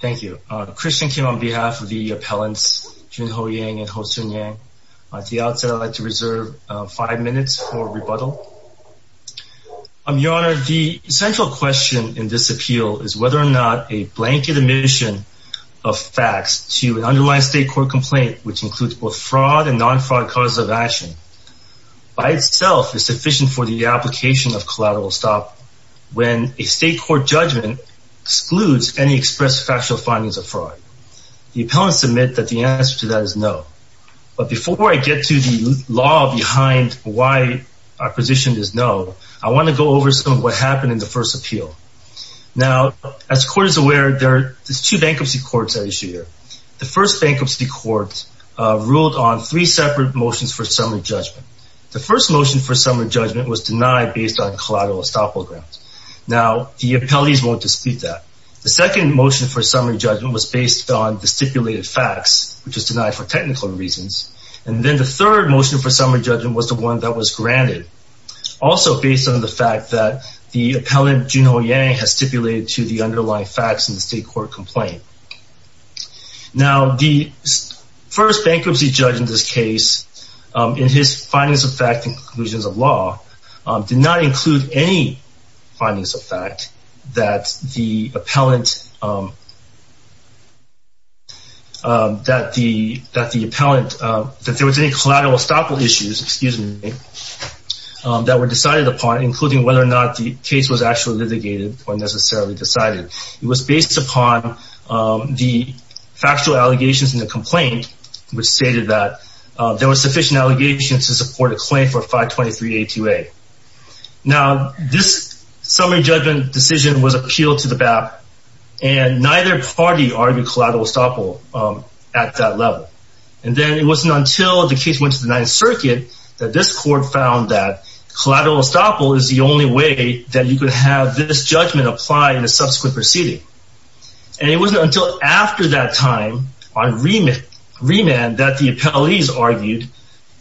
Thank you. Christian Kim on behalf of the appellants Jun-Ho Yang and Ho-Soon Yang. At the outset, I'd like to reserve five minutes for rebuttal. Your Honor, the central question in this appeal is whether or not a blanket admission of facts to an underlying state court complaint, which includes both fraud and non-fraud causes of action, by itself is sufficient for the application of collateral stop when a state court judgment excludes any express factual findings of fraud. The appellants admit that the answer to that is no. But before I get to the law behind why our position is no, I want to go over some of what happened in the first appeal. Now, as the Court is aware, there are two bankruptcy courts at issue here. The first bankruptcy court ruled on three separate motions for summary judgment. The first motion for summary judgment was denied based on collateral estoppel grounds. Now, the appellees won't dispute that. The second motion for summary judgment was based on the stipulated facts, which was denied for technical reasons. And then the third motion for summary judgment was the one that was granted, also based on the fact that the appellant Jun-Ho Yang has stipulated to the underlying facts in the state court complaint. Now, the first bankruptcy judge in this case, in his findings of fact and conclusions of law, did not include any findings of fact that the appellant, that the appellant, that there was any collateral estoppel issues, excuse me, that were decided upon, including whether or not the case was actually litigated or necessarily decided. It was based upon the factual allegations in the complaint, which stated that there were sufficient And then it wasn't until the case went to the Ninth Circuit that this court found that collateral estoppel is the only way that you could have this judgment apply in a subsequent proceeding. And it wasn't until after that time, on remand, that the appellees argued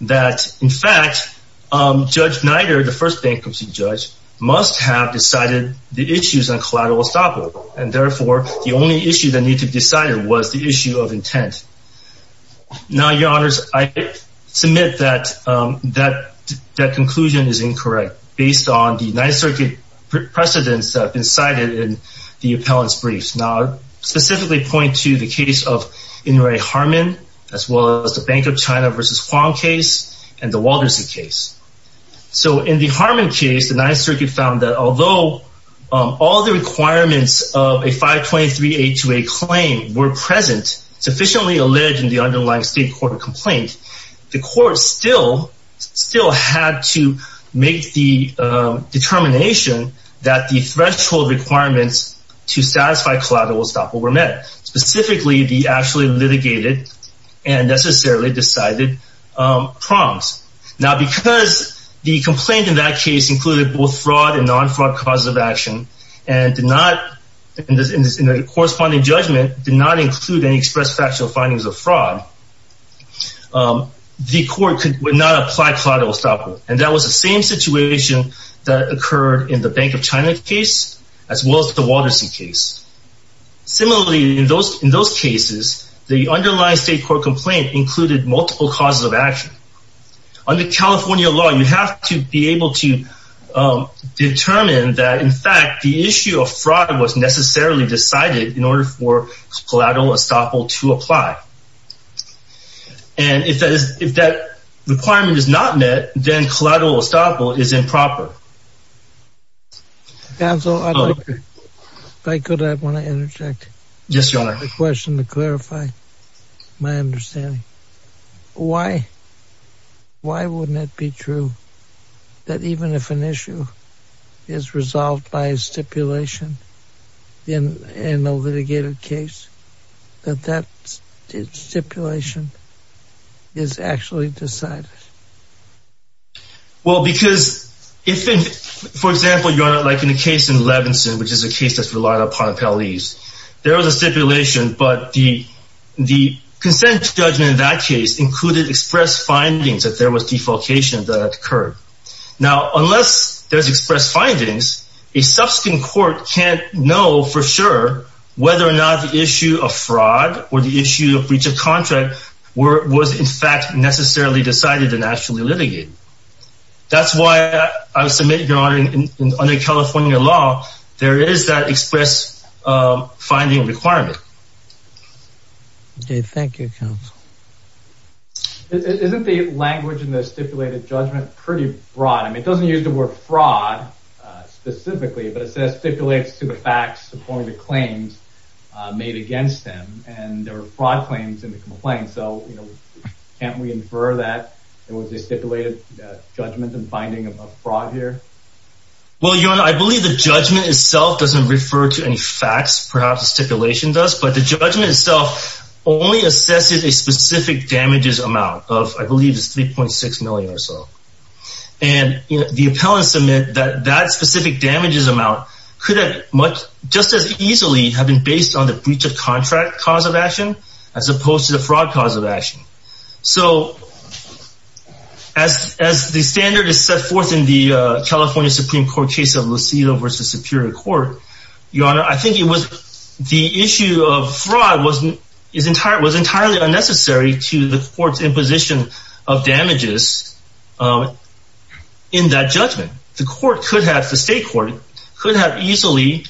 that, in fact, Judge Snyder, the first bankruptcy judge, must have decided the issues on collateral estoppel. And therefore, the only issue that needed to be decided was the issue of intent. Now, your honors, I submit that that conclusion is incorrect, based on the Ninth Circuit precedents that have been cited in the appellant's briefs. Now, I specifically point to the case of In-Rae Harman, as well as the Bank of China versus Huang case, and the Walderseed case. So in the Harman case, the Ninth Circuit found that although all the requirements of a 523-828 claim were present, sufficiently alleged in the underlying state court complaint, the court still had to make the determination that the threshold requirements to satisfy collateral estoppel were met. Specifically, the actually litigated and necessarily decided prongs. Now, because the complaint in that case included both fraud and non-fraud causes of action, and did not, in the corresponding judgment, did not include any expressed factual findings of fraud, the court could not apply collateral estoppel. And that was the same situation that occurred in the Bank of China case, as well as the underlying state court complaint included multiple causes of action. Under California law, you have to be able to determine that, in fact, the issue of fraud was necessarily decided in order for collateral estoppel to apply. And if that is, if that requirement is not met, then collateral estoppel is improper. Councilor, if I could, I want to interject. Yes, Your Honor. I have a question to clarify my understanding. Why? Why wouldn't it be true that even if an issue is resolved by a stipulation in a litigated case, that that stipulation is actually decided? Well, because if, for example, Your Honor, like in the case in Levinson, which is a case that's relied upon appellees, there was a stipulation, but the consent judgment in that case included expressed findings that there was defalcation that occurred. Now, unless there's expressed findings, a subsequent court can't know for sure whether or not the issue of fraud was, in fact, necessarily decided and actually litigated. That's why I submit, Your Honor, under California law, there is that expressed finding requirement. Dave, thank you, counsel. Isn't the language in the stipulated judgment pretty broad? I mean, it doesn't use the word fraud specifically, but it says stipulates to the facts according to claims made against them. And there can't we infer that there was a stipulated judgment and finding of fraud here? Well, Your Honor, I believe the judgment itself doesn't refer to any facts, perhaps the stipulation does, but the judgment itself only assesses a specific damages amount of, I believe, 3.6 million or so. And the appellants submit that that specific damages amount could have much just as easily have been based on the breach of contract cause of action, as opposed to the fraud cause of action. So as as the standard is set forth in the California Supreme Court case of Lucila versus Superior Court, Your Honor, I think it was the issue of fraud wasn't his entire was entirely unnecessary to the court's imposition of damages. In that judgment, the court could have the state court could have easily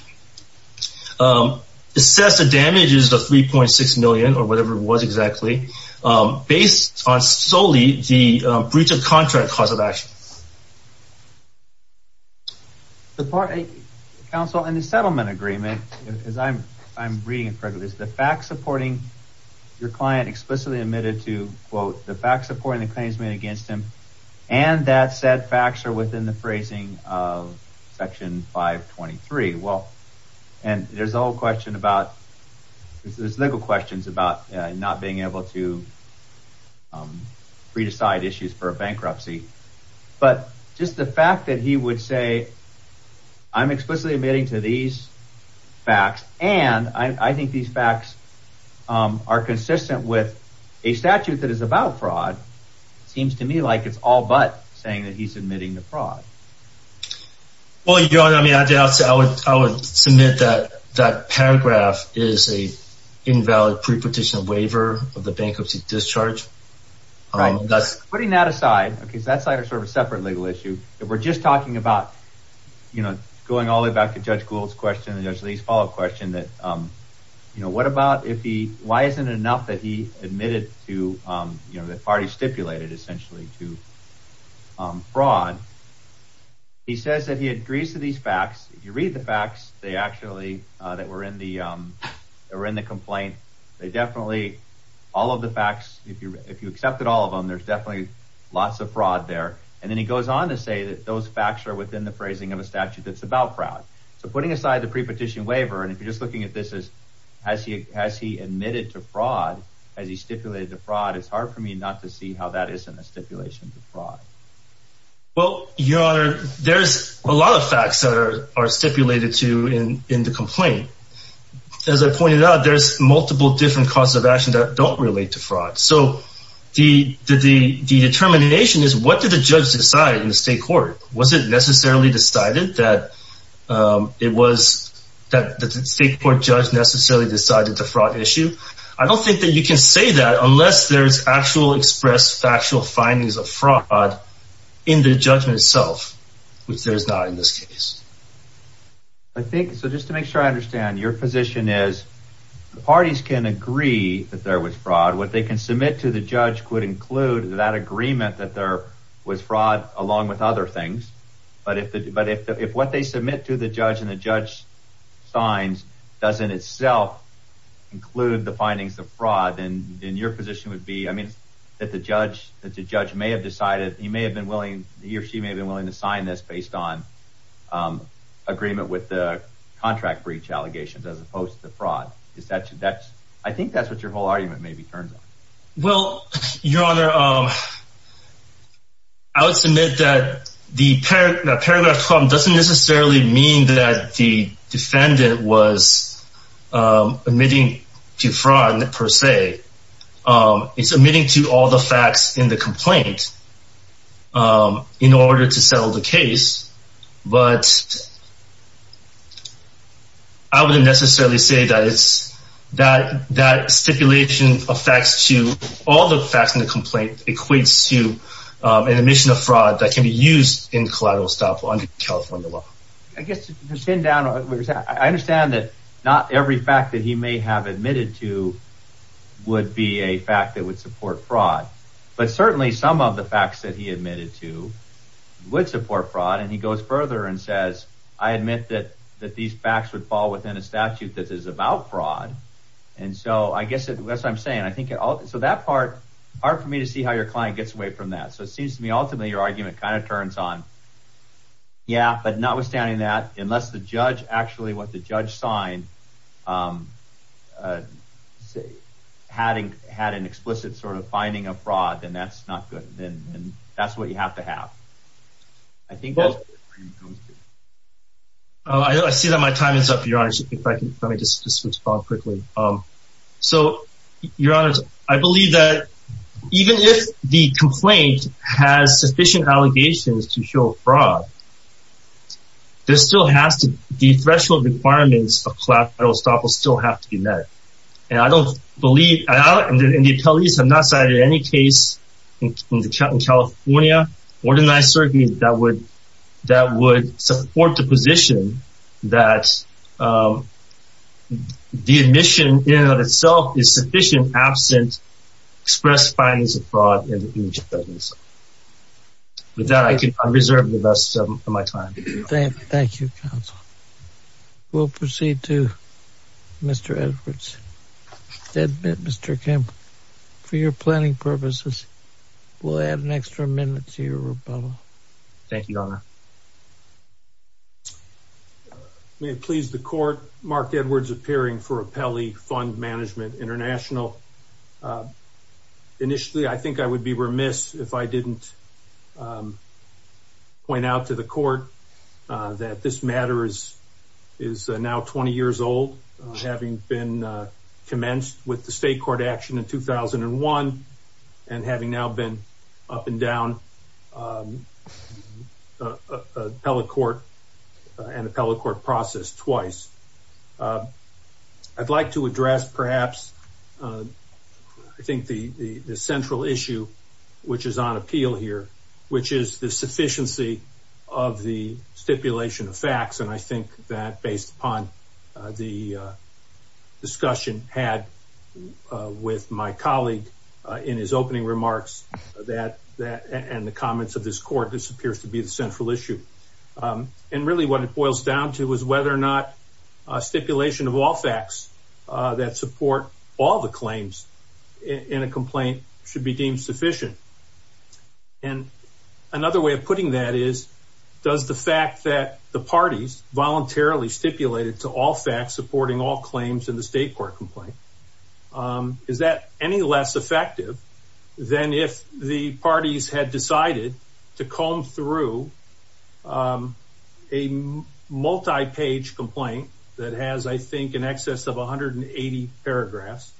assessed the damages of 3.6 million or whatever it was exactly based on solely the breach of contract cause of action. The part a counsel in the settlement agreement, as I'm I'm reading it correctly, is the fact supporting your client explicitly admitted to, quote, the fact supporting the claims made against him. And that said facts are within the free. Well, and there's a whole question about this. There's legal questions about not being able to free to side issues for a bankruptcy. But just the fact that he would say, I'm explicitly admitting to these facts and I think these facts are consistent with a statute that is about fraud. Seems to me like it's all but saying that he's admitting to fraud. Well, you know what I mean? I guess I would I would submit that that paragraph is a invalid prepetition waiver of the bankruptcy discharge. That's putting that aside because that's sort of a separate legal issue that we're just talking about, you know, going all the way back to Judge Gould's question. And there's these follow up question that, you know, what about if he why isn't it enough that he admitted to, you know, that party stipulated essentially to fraud? He says that he agrees to these facts. You read the facts. They actually that we're in the we're in the complaint. They definitely all of the facts. If you if you accepted all of them, there's definitely lots of fraud there. And then he goes on to say that those facts are within the phrasing of a statute that's about fraud. So putting aside the prepetition waiver and if you're just looking at this is has he has he admitted to fraud as he stipulated the fraud? It's hard for me not to see how that is in the stipulation to fraud. Well, your honor, there's a lot of facts that are stipulated to in in the complaint. As I pointed out, there's multiple different causes of action that don't relate to fraud. So the determination is what did the judge decide in the state court? Was it necessarily decided that it was that the state court judge necessarily decided to fraud issue? I don't think that you can say that unless there's actual express factual findings of fraud in the judgment itself, which there's not in this case. I think so just to make sure I understand your position is the parties can agree that there was fraud what they can submit to the judge could include that agreement that there was fraud along with other things. But if the but if if what they submit to the judge and the judge signs doesn't itself include the findings of fraud and your position would be I mean, that the judge that the judge may have decided he may have been willing he or she may have been willing to sign this based on agreement with the contract breach allegations as opposed to fraud. Is that that's I think that's what your whole argument maybe turns out. Well, your honor, I would submit that the paragraph doesn't necessarily mean that the defendant was admitting to fraud per se. It's admitting to all the facts in the complaint in order to settle the case. But I wouldn't necessarily say that it's that that stipulation of facts to all the facts in the complaint equates to an admission of fraud that can be used in collateral stuff on the California law. I guess to send down I understand that not every fact that he may have admitted to would be a fact that would support fraud. But certainly some of the facts that he admitted to would support fraud. And he goes further and says, I admit that that these facts would fall within a statute that is about fraud. And so I guess that's what I'm saying. I think so that part are for me to see how your client gets away from that. So it seems to me ultimately your argument kind of turns on. Yeah, but notwithstanding that, unless the judge actually what the judge signed, having had an explicit sort of finding of fraud, then that's not good. And that's what you have to have. I think I see that my time is up, your honor. If I can let me just respond quickly. So, your honor, I believe that even if the complaint has sufficient allegations to show fraud, there still has to be threshold requirements of collateral stuff will still have to be met. And I don't believe in the police have not cited any case in California, or deny surrogate that would that would support the position that the admission itself is sufficient absent express findings of fraud in each of those. With that, I can reserve the rest of my time. Thank you. We'll proceed to Mr. Edwards. Mr. Kim, for your planning purposes, we'll add an extra minute to your rebuttal. Thank you, your honor. Uh, may it please the court. Mark Edwards appearing for a Pele Fund Management International. Uh, initially, I think I would be remiss if I didn't, um, point out to the court that this matter is is now 20 years old, having been commenced with the state court action in 2001 and having now been up and down, um, uh, appellate court and appellate court process twice. Uh, I'd like to address perhaps, uh, I think the central issue, which is on appeal here, which is the sufficiency of the stipulation of facts. And I think that based upon the discussion had, uh, with my colleague, uh, in his opening remarks that, that, and the comments of this court, this appears to be the central issue. Um, and really what it boils down to is whether or not a stipulation of all facts that support all the claims in a complaint should be deemed sufficient. And another way of putting that is does the fact that the parties voluntarily stipulated to all facts supporting all claims in the state court complaint? Um, is that any less effective than if the parties had decided to comb through, um, a multi page complaint that has, I think, in excess of 180 paragraphs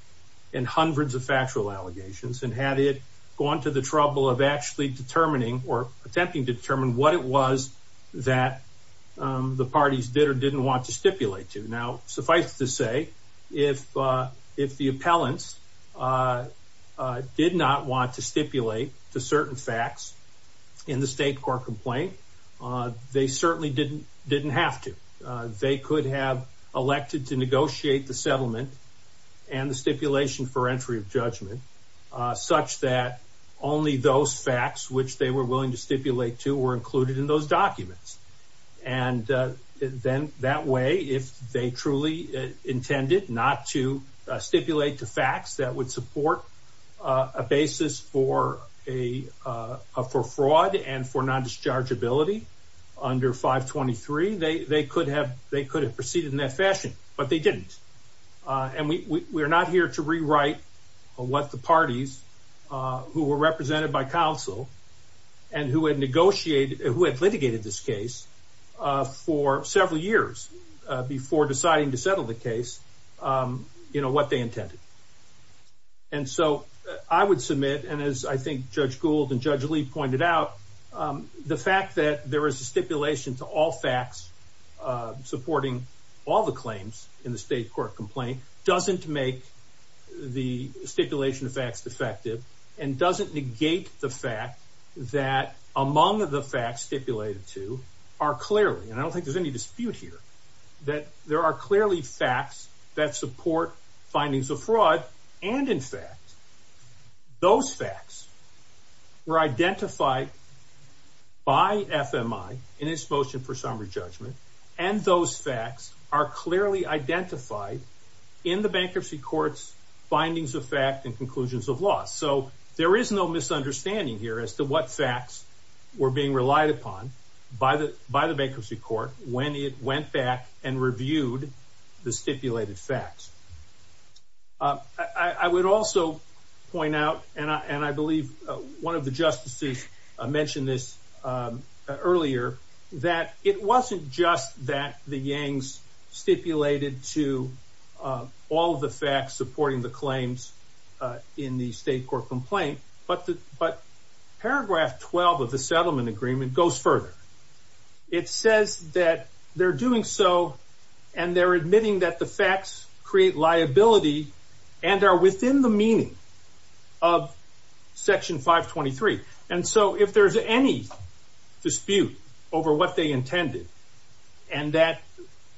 and hundreds of factual allegations and had it gone to the trouble of actually determining or attempting to determine what it was that the parties did or didn't want to stipulate to now suffice to say, if if the appellants, uh, did not want to stipulate to certain facts in the state court complaint, they certainly didn't didn't have to. They could have elected to negotiate the settlement and the stipulation for entry of judgment such that only those facts which they were willing to stipulate to were included in those documents. And then that way, if they truly intended not to stipulate to facts that would support a basis for a for fraud and for non discharge ability under 5 23, they could have. They could have proceeded in that fashion, but they didn't. And we're not here to rewrite what the parties who were represented by counsel and who had negotiated who had litigated this case for several years before deciding to settle the case. Um, you know what they intended. And so I would submit. And as I think Judge Gould and Judge Lee pointed out, the fact that there is a stipulation to all facts supporting all the claims in the state court complaint doesn't make the stipulation of facts defective and doesn't negate the fact that among the facts stipulated to are clearly and I don't think there's any dispute here that there are clearly facts that support findings of fraud. And in fact, those facts were identified by FMI in its motion for summary judgment, and those facts are clearly identified in the bankruptcy courts, findings of fact and conclusions of loss. So there is no misunderstanding here as to what facts were being relied upon by the by the bankruptcy court when it went back and reviewed the stipulated facts. Uh, I would also point out, and I believe one of the justices mentioned this earlier that it wasn't just that the Yang's stipulated to all the facts supporting the claims in the state court complaint. But but paragraph 12 of the settlement agreement goes further. It says that they're doing so, and they're admitting that the facts create liability and are within the meaning of if there's any dispute over what they intended and that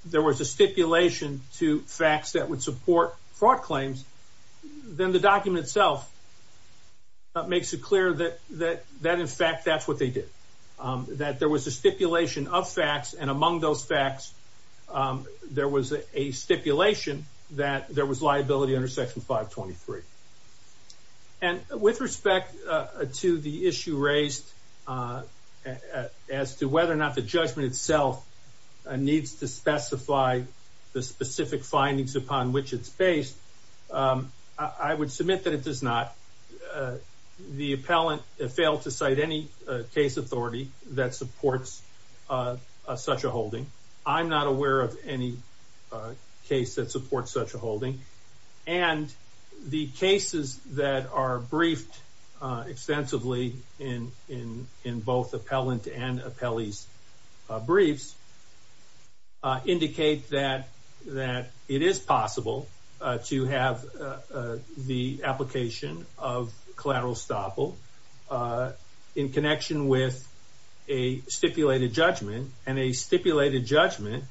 there was a stipulation to facts that would support fraud claims, then the document itself makes it clear that that that in fact, that's what they did, that there was a stipulation of facts. And among those facts, there was a stipulation that there was liability under Section 5 23 and with respect to the issue raised, uh, as to whether or not the judgment itself needs to specify the specific findings upon which it's based. Um, I would submit that it does not. Uh, the appellant failed to cite any case authority that supports, uh, such a holding. I'm not aware of any, uh, case that supports such a holding. And the cases that are briefed extensively in in in both appellant and appellees briefs indicate that that it is possible to have the application of collateral stoppel, uh, in connection with a stipulated judgment and a stipulated judgment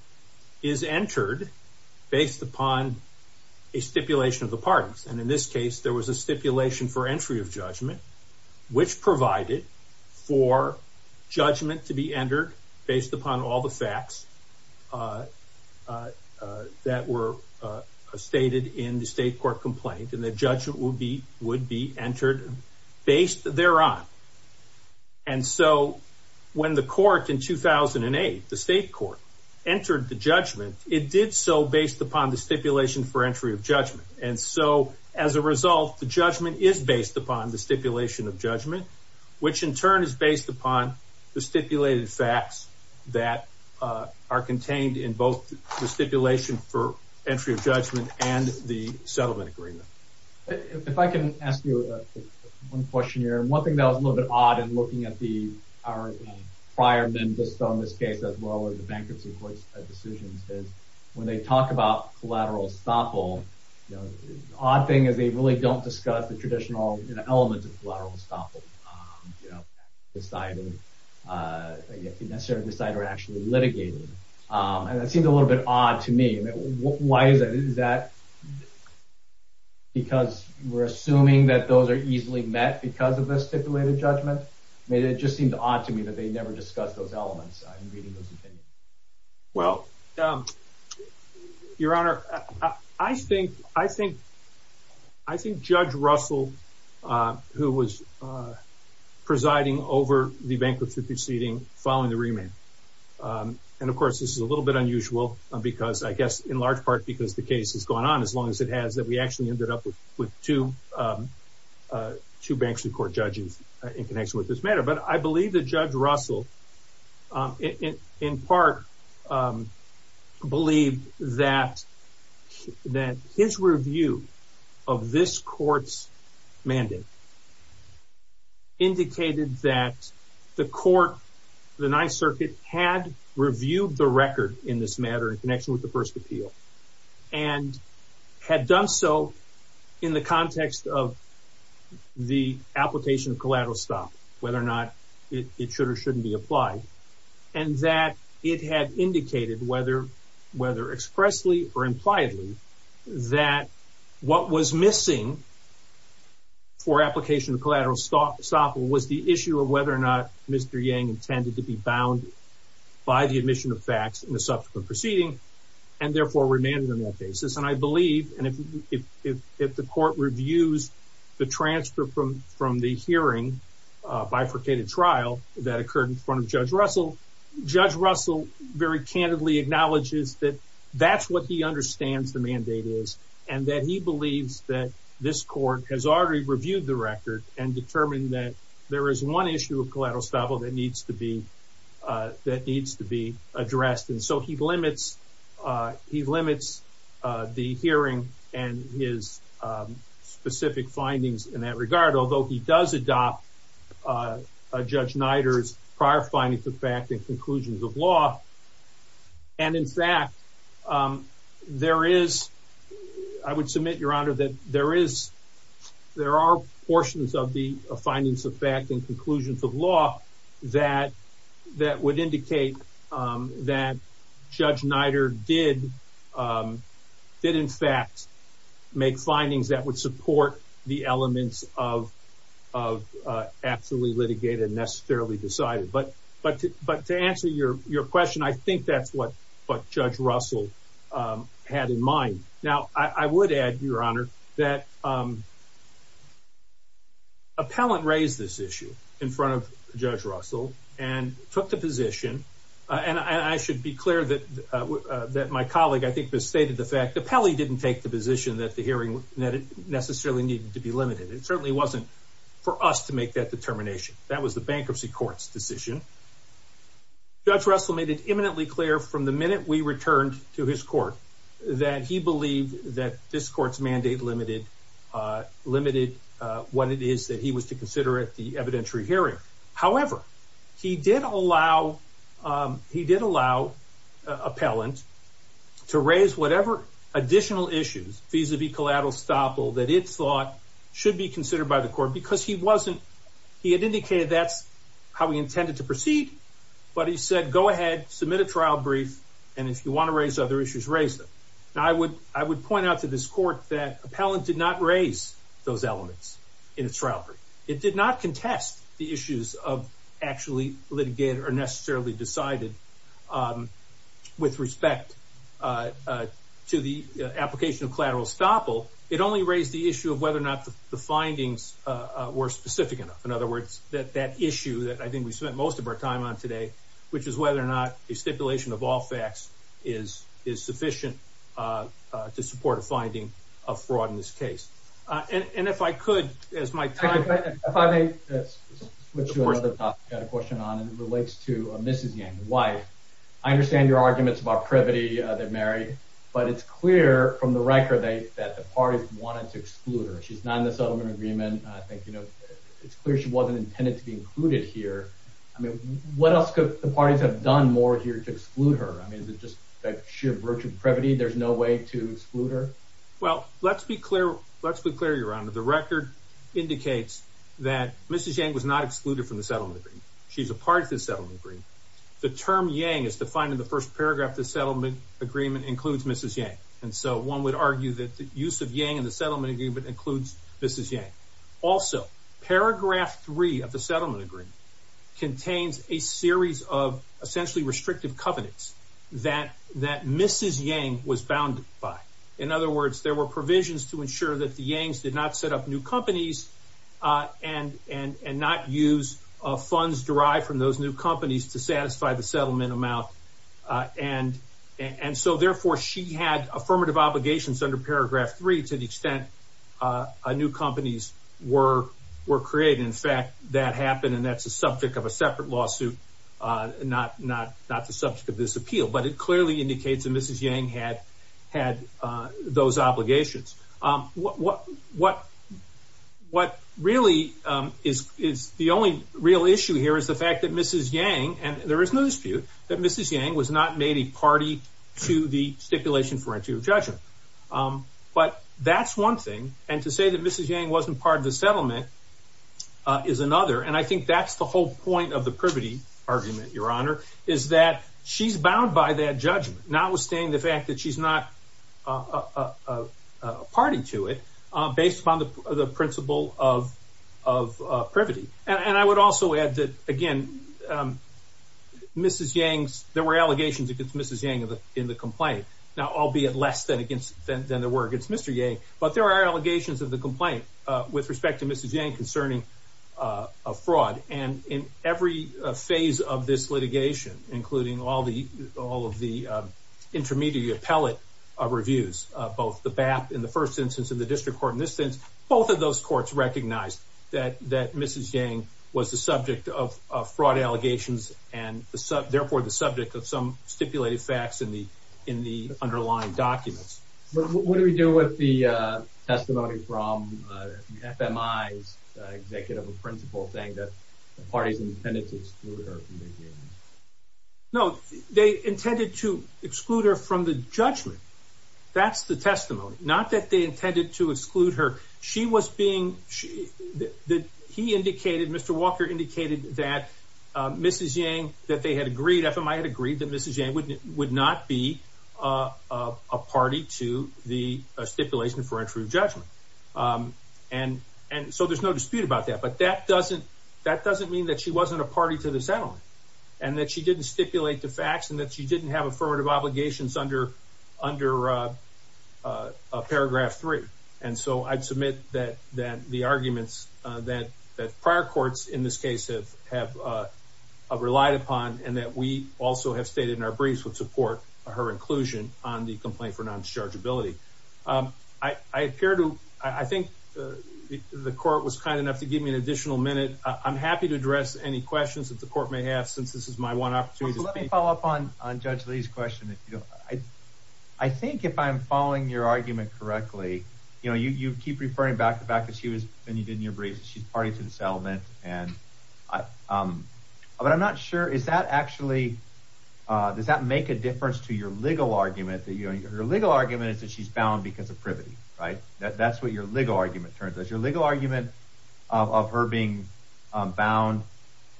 is entered based upon a stipulation of the parties. And in this case, there was a stipulation for entry of judgment, which provided for judgment to be entered based upon all the facts, uh, uh, that were, uh, stated in the state court complaint. And the judgment will be would be entered based there on. And so when the court in 2008 the state court entered the judgment, it did so based upon the stipulation for entry of judgment. And so as a result, the judgment is based upon the stipulation of judgment, which in turn is based upon the stipulated facts that are contained in both the stipulation for entry of judgment and the settlement agreement. If I can ask you one question here, one thing that was a little bit odd and looking at the our prior than just on this case as well as the bankruptcy courts decisions is when they talk about collateral stoppel, you know, odd thing is they really don't discuss the traditional elements of collateral stoppel, um, you know, deciding, uh, necessary to decide or actually litigating. Um, and that seems a little bit odd to me. Why is that? Is that because we're assuming that those are easily met because of the stipulated judgment? Maybe it just seemed odd to me that they never discussed those elements. I'm reading those opinions. Well, um, your honor, I think, I think, I think Judge Russell, uh, who was, uh, presiding over the bankruptcy proceeding following the remand. Um, and of course, this is a little bit unusual because I guess in large part because the case has gone on as long as it has that we actually ended up with two, um, uh, two bankruptcy court judges in connection with this matter. But I believe that Judge Russell, um, in part, um, believe that that his review of this court's mandate indicated that the court, the Ninth Circuit had reviewed the record in this appeal and had done so in the context of the application of collateral stop, whether or not it should or shouldn't be applied. And that it had indicated whether, whether expressly or impliedly that what was missing for application of collateral stop was the issue of whether or not Mr. Yang intended to be therefore remanded on that basis. And I believe if the court reviews the transfer from the hearing bifurcated trial that occurred in front of Judge Russell, Judge Russell very candidly acknowledges that that's what he understands the mandate is and that he believes that this court has already reviewed the record and determined that there is one issue of collateral stubble that needs to be, uh, that needs to be addressed. And so he limits, uh, he limits the hearing and his, um, specific findings in that regard, although he does adopt, uh, Judge Niders prior findings of fact and conclusions of law. And in fact, um, there is, I would submit, Your Honor, that there is there are portions of the findings of fact and conclusions of law that that would indicate, um, that Judge Nider did, um, did, in fact, make findings that would support the elements of, of, uh, absolutely litigated necessarily decided. But, but, but to answer your question, I think that's what, but I would add, Your Honor, that, um, appellant raised this issue in front of Judge Russell and took the position. And I should be clear that that my colleague, I think, stated the fact that Pelly didn't take the position that the hearing that it necessarily needed to be limited. It certainly wasn't for us to make that determination. That was the bankruptcy court's decision. Judge Russell made it imminently clear from the minute we returned to his believe that this court's mandate limited, uh, limited what it is that he was to consider at the evidentiary hearing. However, he did allow, um, he did allow appellant to raise whatever additional issues vis a vis collateral stopple that it's thought should be considered by the court because he wasn't, he had indicated that's how we intended to proceed. But he said, go ahead, submit a trial brief. And if you want to raise other issues, raise them. I would I would point out to this court that appellant did not raise those elements in its trial. It did not contest the issues of actually litigate or necessarily decided, um, with respect, uh, to the application of collateral stopple. It only raised the issue of whether or not the findings were specific enough. In other words, that that issue that I think we spent most of our time on today, which is whether or not a stipulation of all facts is is sufficient, uh, to support a finding of fraud in this case. And if I could, as my time, if I may switch to another question on it relates to Mrs Yang wife. I understand your arguments about privity that married, but it's clear from the record that the parties wanted to exclude her. She's not in the settlement agreement. I think, you know, it's clear she wasn't intended to be included here. I mean, what else could the parties have done more here to exclude her? I mean, it's just that sheer virtue of privity. There's no way to exclude her. Well, let's be clear. Let's be clear. You're under the record indicates that Mrs Yang was not excluded from the settlement. She's a part of the settlement. The term Yang is defined in the first paragraph. The settlement agreement includes Mrs Yang. And so one would argue that the use of Yang and the settlement agreement includes Mrs Yang. Also, paragraph three of the settlement agreement contains a series of essentially restrictive covenants that that Mrs Yang was bound by. In other words, there were provisions to ensure that the Yangs did not set up new companies, uh, and and and not use of funds derived from those new companies to satisfy the settlement amount. Uh, and and so, therefore, she had affirmative obligations under paragraph three to the extent, uh, new companies were were created. In fact, that happened, and that's a subject of a separate lawsuit. Uh, not not not the subject of this appeal, but it clearly indicates that Mrs Yang had had those obligations. Um, what? What? What really is is the only real issue here is the fact that Mrs Yang and there is no dispute that Mrs Yang was not made a judgment. Um, but that's one thing. And to say that Mrs Yang wasn't part of the settlement, uh, is another. And I think that's the whole point of the privity argument, Your Honor, is that she's bound by that judgment, not withstanding the fact that she's not, uh, party to it based upon the principle of of privity. And I would also add that again, um, Mrs Yang's there were than against than there were against Mr Yang. But there are allegations of the complaint with respect to Mrs Yang concerning, uh, fraud and in every phase of this litigation, including all the all of the intermediate pellet of reviews, both the bath in the first instance of the district court in this sense, both of those courts recognized that that Mrs Yang was the subject of fraud allegations and therefore the subject of some stipulated facts in the in the underlying documents. What do we do with the testimony from FMI's executive principle thing that parties intended to exclude her? No, they intended to exclude her from the judgment. That's the testimony. Not that they intended to exclude her. She was being that he indicated Mr Walker indicated that Mrs Yang that they had agreed. FMI had agreed that Mrs Yang would not be a party to the stipulation for a true judgment. Um, and and so there's no dispute about that. But that doesn't that doesn't mean that she wasn't a party to the settlement and that she didn't stipulate the facts and that she didn't have affirmative obligations under under, uh, paragraph three. And so I'd submit that that the arguments that that prior courts in this case have have relied upon and that we also have stated in our briefs would support her inclusion on the complaint for non discharge ability. Um, I appear to. I think the court was kind enough to give me an additional minute. I'm happy to address any questions that the court may have, since this is my one opportunity to follow up on on Judge Lee's question. I think if I'm following your argument correctly, you know, you you keep referring back to back that she was and you didn't. You're brave. She's party to the settlement. And, um, but I'm not sure. Is that actually does that make a difference to your legal argument that your legal argument is that she's bound because of privity, right? That's what your legal argument turns as your legal argument of her being bound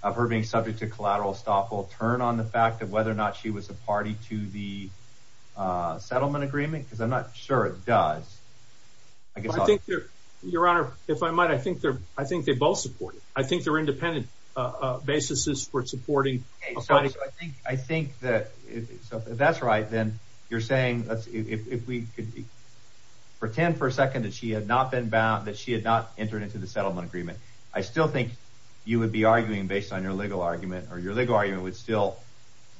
of her being subject to collateral stop will turn on the fact that whether or not she was a party to the settlement agreement because I'm sure it does. I guess I think you're your honor. If I might, I think I think they both support. I think they're independent basis is for supporting. I think that that's right. Then you're saying if we could pretend for a second that she had not been about that she had not entered into the settlement agreement, I still think you would be arguing based on your legal argument or your legal argument would still,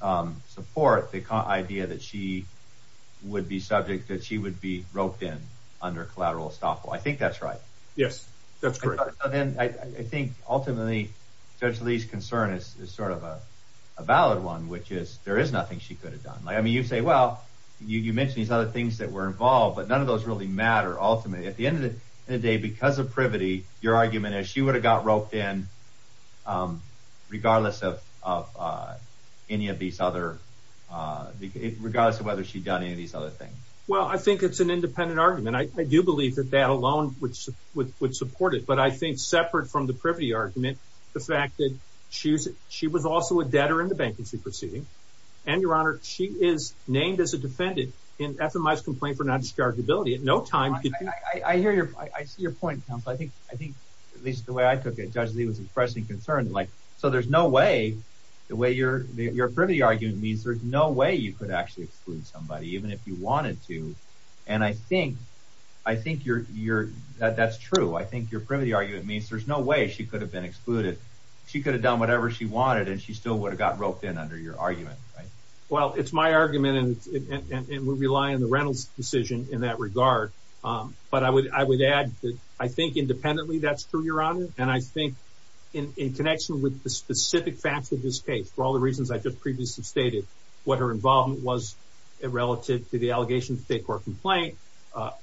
um, support the idea that she would be subject, that she would be roped in under collateral stop. I think that's right. Yes, that's great. And I think ultimately, Judge Lee's concern is sort of a valid one, which is there is nothing she could have done. I mean, you say, well, you mentioned these other things that were involved, but none of those really matter. Ultimately, at the end of the day, because of privity, your argument is she would have got roped in, um, regardless of, uh, any of these other, uh, regardless of whether she done any of these other things. Well, I think it's an independent argument. I do believe that that alone which would support it. But I think separate from the privity argument, the fact that she was she was also a debtor in the bankruptcy proceeding. And your honor, she is named as a defendant in FMI's complaint for non discharge ability at no time. I hear you. I see your point. I think I think at least the way I took it, Judge Lee was impressing concern. Like, so there's no way the way you're your privity argument means there's no way you could actually exclude somebody, even if you wanted to. And I think I think you're you're that that's true. I think your privity argument means there's no way she could have been excluded. She could have done whatever she wanted, and she still would have got roped in under your argument. Well, it's my argument, and we rely on the Reynolds decision in that regard. But I would I would add that I think independently. That's true, Your Honor. And I think in connection with the reasons I just previously stated what her involvement was relative to the allegation of state court complaint,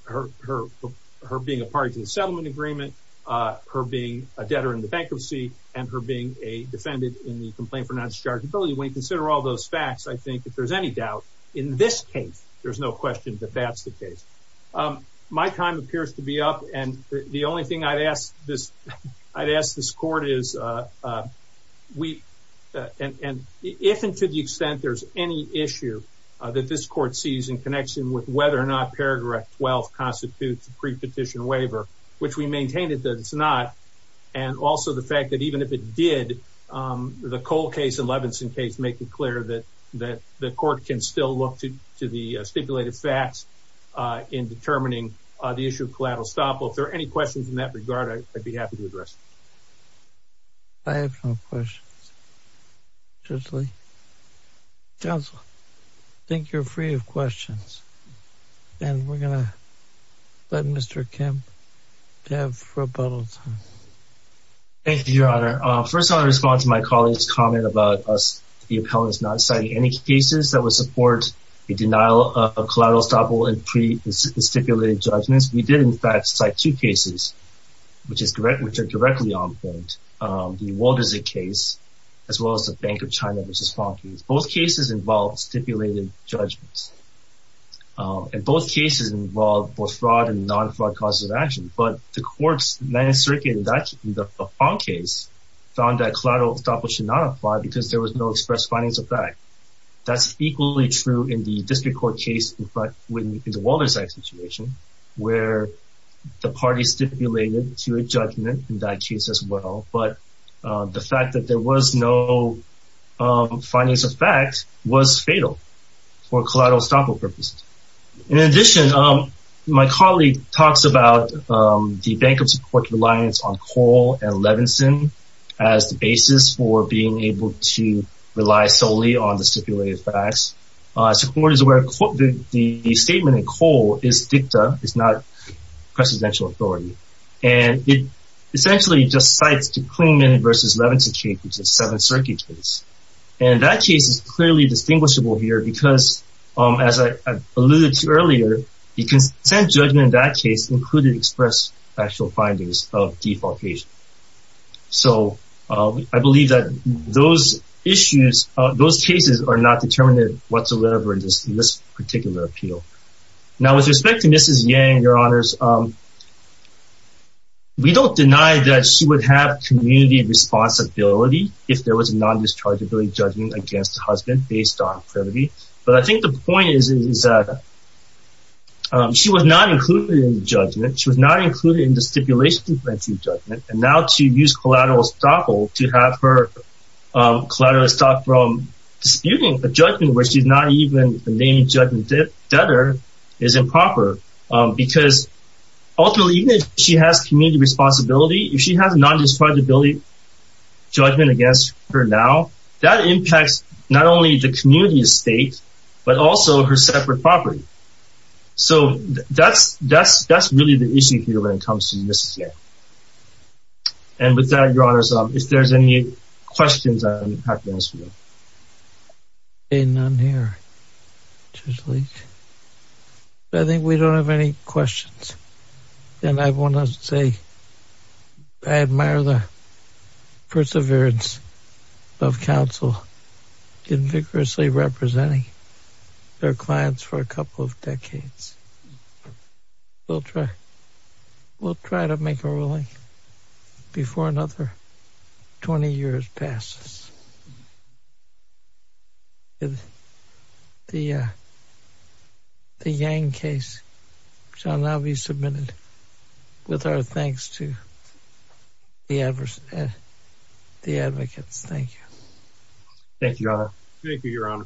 her being a party to the settlement agreement, her being a debtor in the bankruptcy and her being a defendant in the complaint for non discharge ability. When you consider all those facts, I think if there's any doubt in this case, there's no question that that's the case. Um, my time appears to be up, and the only thing I'd ask this I'd ask this court is, uh, we and if and to the extent there's any issue that this court sees in connection with whether or not paragraph 12 constitutes prepetition waiver, which we maintained it that it's not. And also the fact that even if it did, um, the Cole case in Levenson case, making clear that that the court can still look to the stipulated facts in determining the issue of collateral stop. If there are any questions in that regard, I'd be happy to address. I have no questions. Justly. Council. Thank you. You're free of questions, and we're gonna let Mr. Kim have for a bottle. Thank you, Your Honor. First, I'll respond to my colleagues comment about us. The appellant is not citing any cases that would support a denial of collateral stopple and pre stipulated judgments. We did, in fact, cite two cases, which is correct, which are directly on point. Um, the world is a case as well as the Bank of China, which is funky. Both cases involved stipulated judgments. Uh, in both cases involved both fraud and non fraud causes of action. But the courts men circuit that the phone case found that collateral stopper should not apply because there was no express finance effect. That's equally true in the district court case. But when you can do all this situation where the party stipulated to a judgment in that case as well, but the fact that there was no, um, findings of fact was fatal for collateral stopper purposes. In addition, my colleague talks about the Bank of support reliance on coal and Levinson as the basis for being able to rely solely on the stipulated facts. Support is where the statement of coal is dicta is not presidential authority, and it essentially just cites to claim in versus Levinson, which is seven circuits. And that case is clearly distinguishable here because, um, as I alluded to earlier, you can send judgment. That case included express actual findings of defalcation. So I believe that those issues those cases are not determined whatsoever in this in this particular appeal. Now, with respect to Mrs. Yang, your honors, um, we don't deny that she would have community responsibility if there was a non dischargeability judging against the husband based on credibility. But I think the point is, is that she was not included in the judgment. She was not included in the stipulation to grant you judgment. And now to use collateral stopper to have her collateral stop from disputing a judgment where she's not even the name judgment debtor is improper, because ultimately, she has community responsibility if she has non dischargeability judgment against her now, that impacts not only the community estate, but also her separate property. So that's, that's, that's really the issue here when it comes to Mrs. Yang. And with that, your honors, if there's any questions, I'll be happy to answer them. Ain't none here. I think we don't have any questions. And I want to say, I admire the perseverance of counsel in vigorously representing their clients for a couple of decades. We'll try. We'll try to make a ruling before another 20 years passes. The, uh, the Yang case shall now be submitted with our thanks to the adverse, the advocates. Thank you. Thank you, your honor.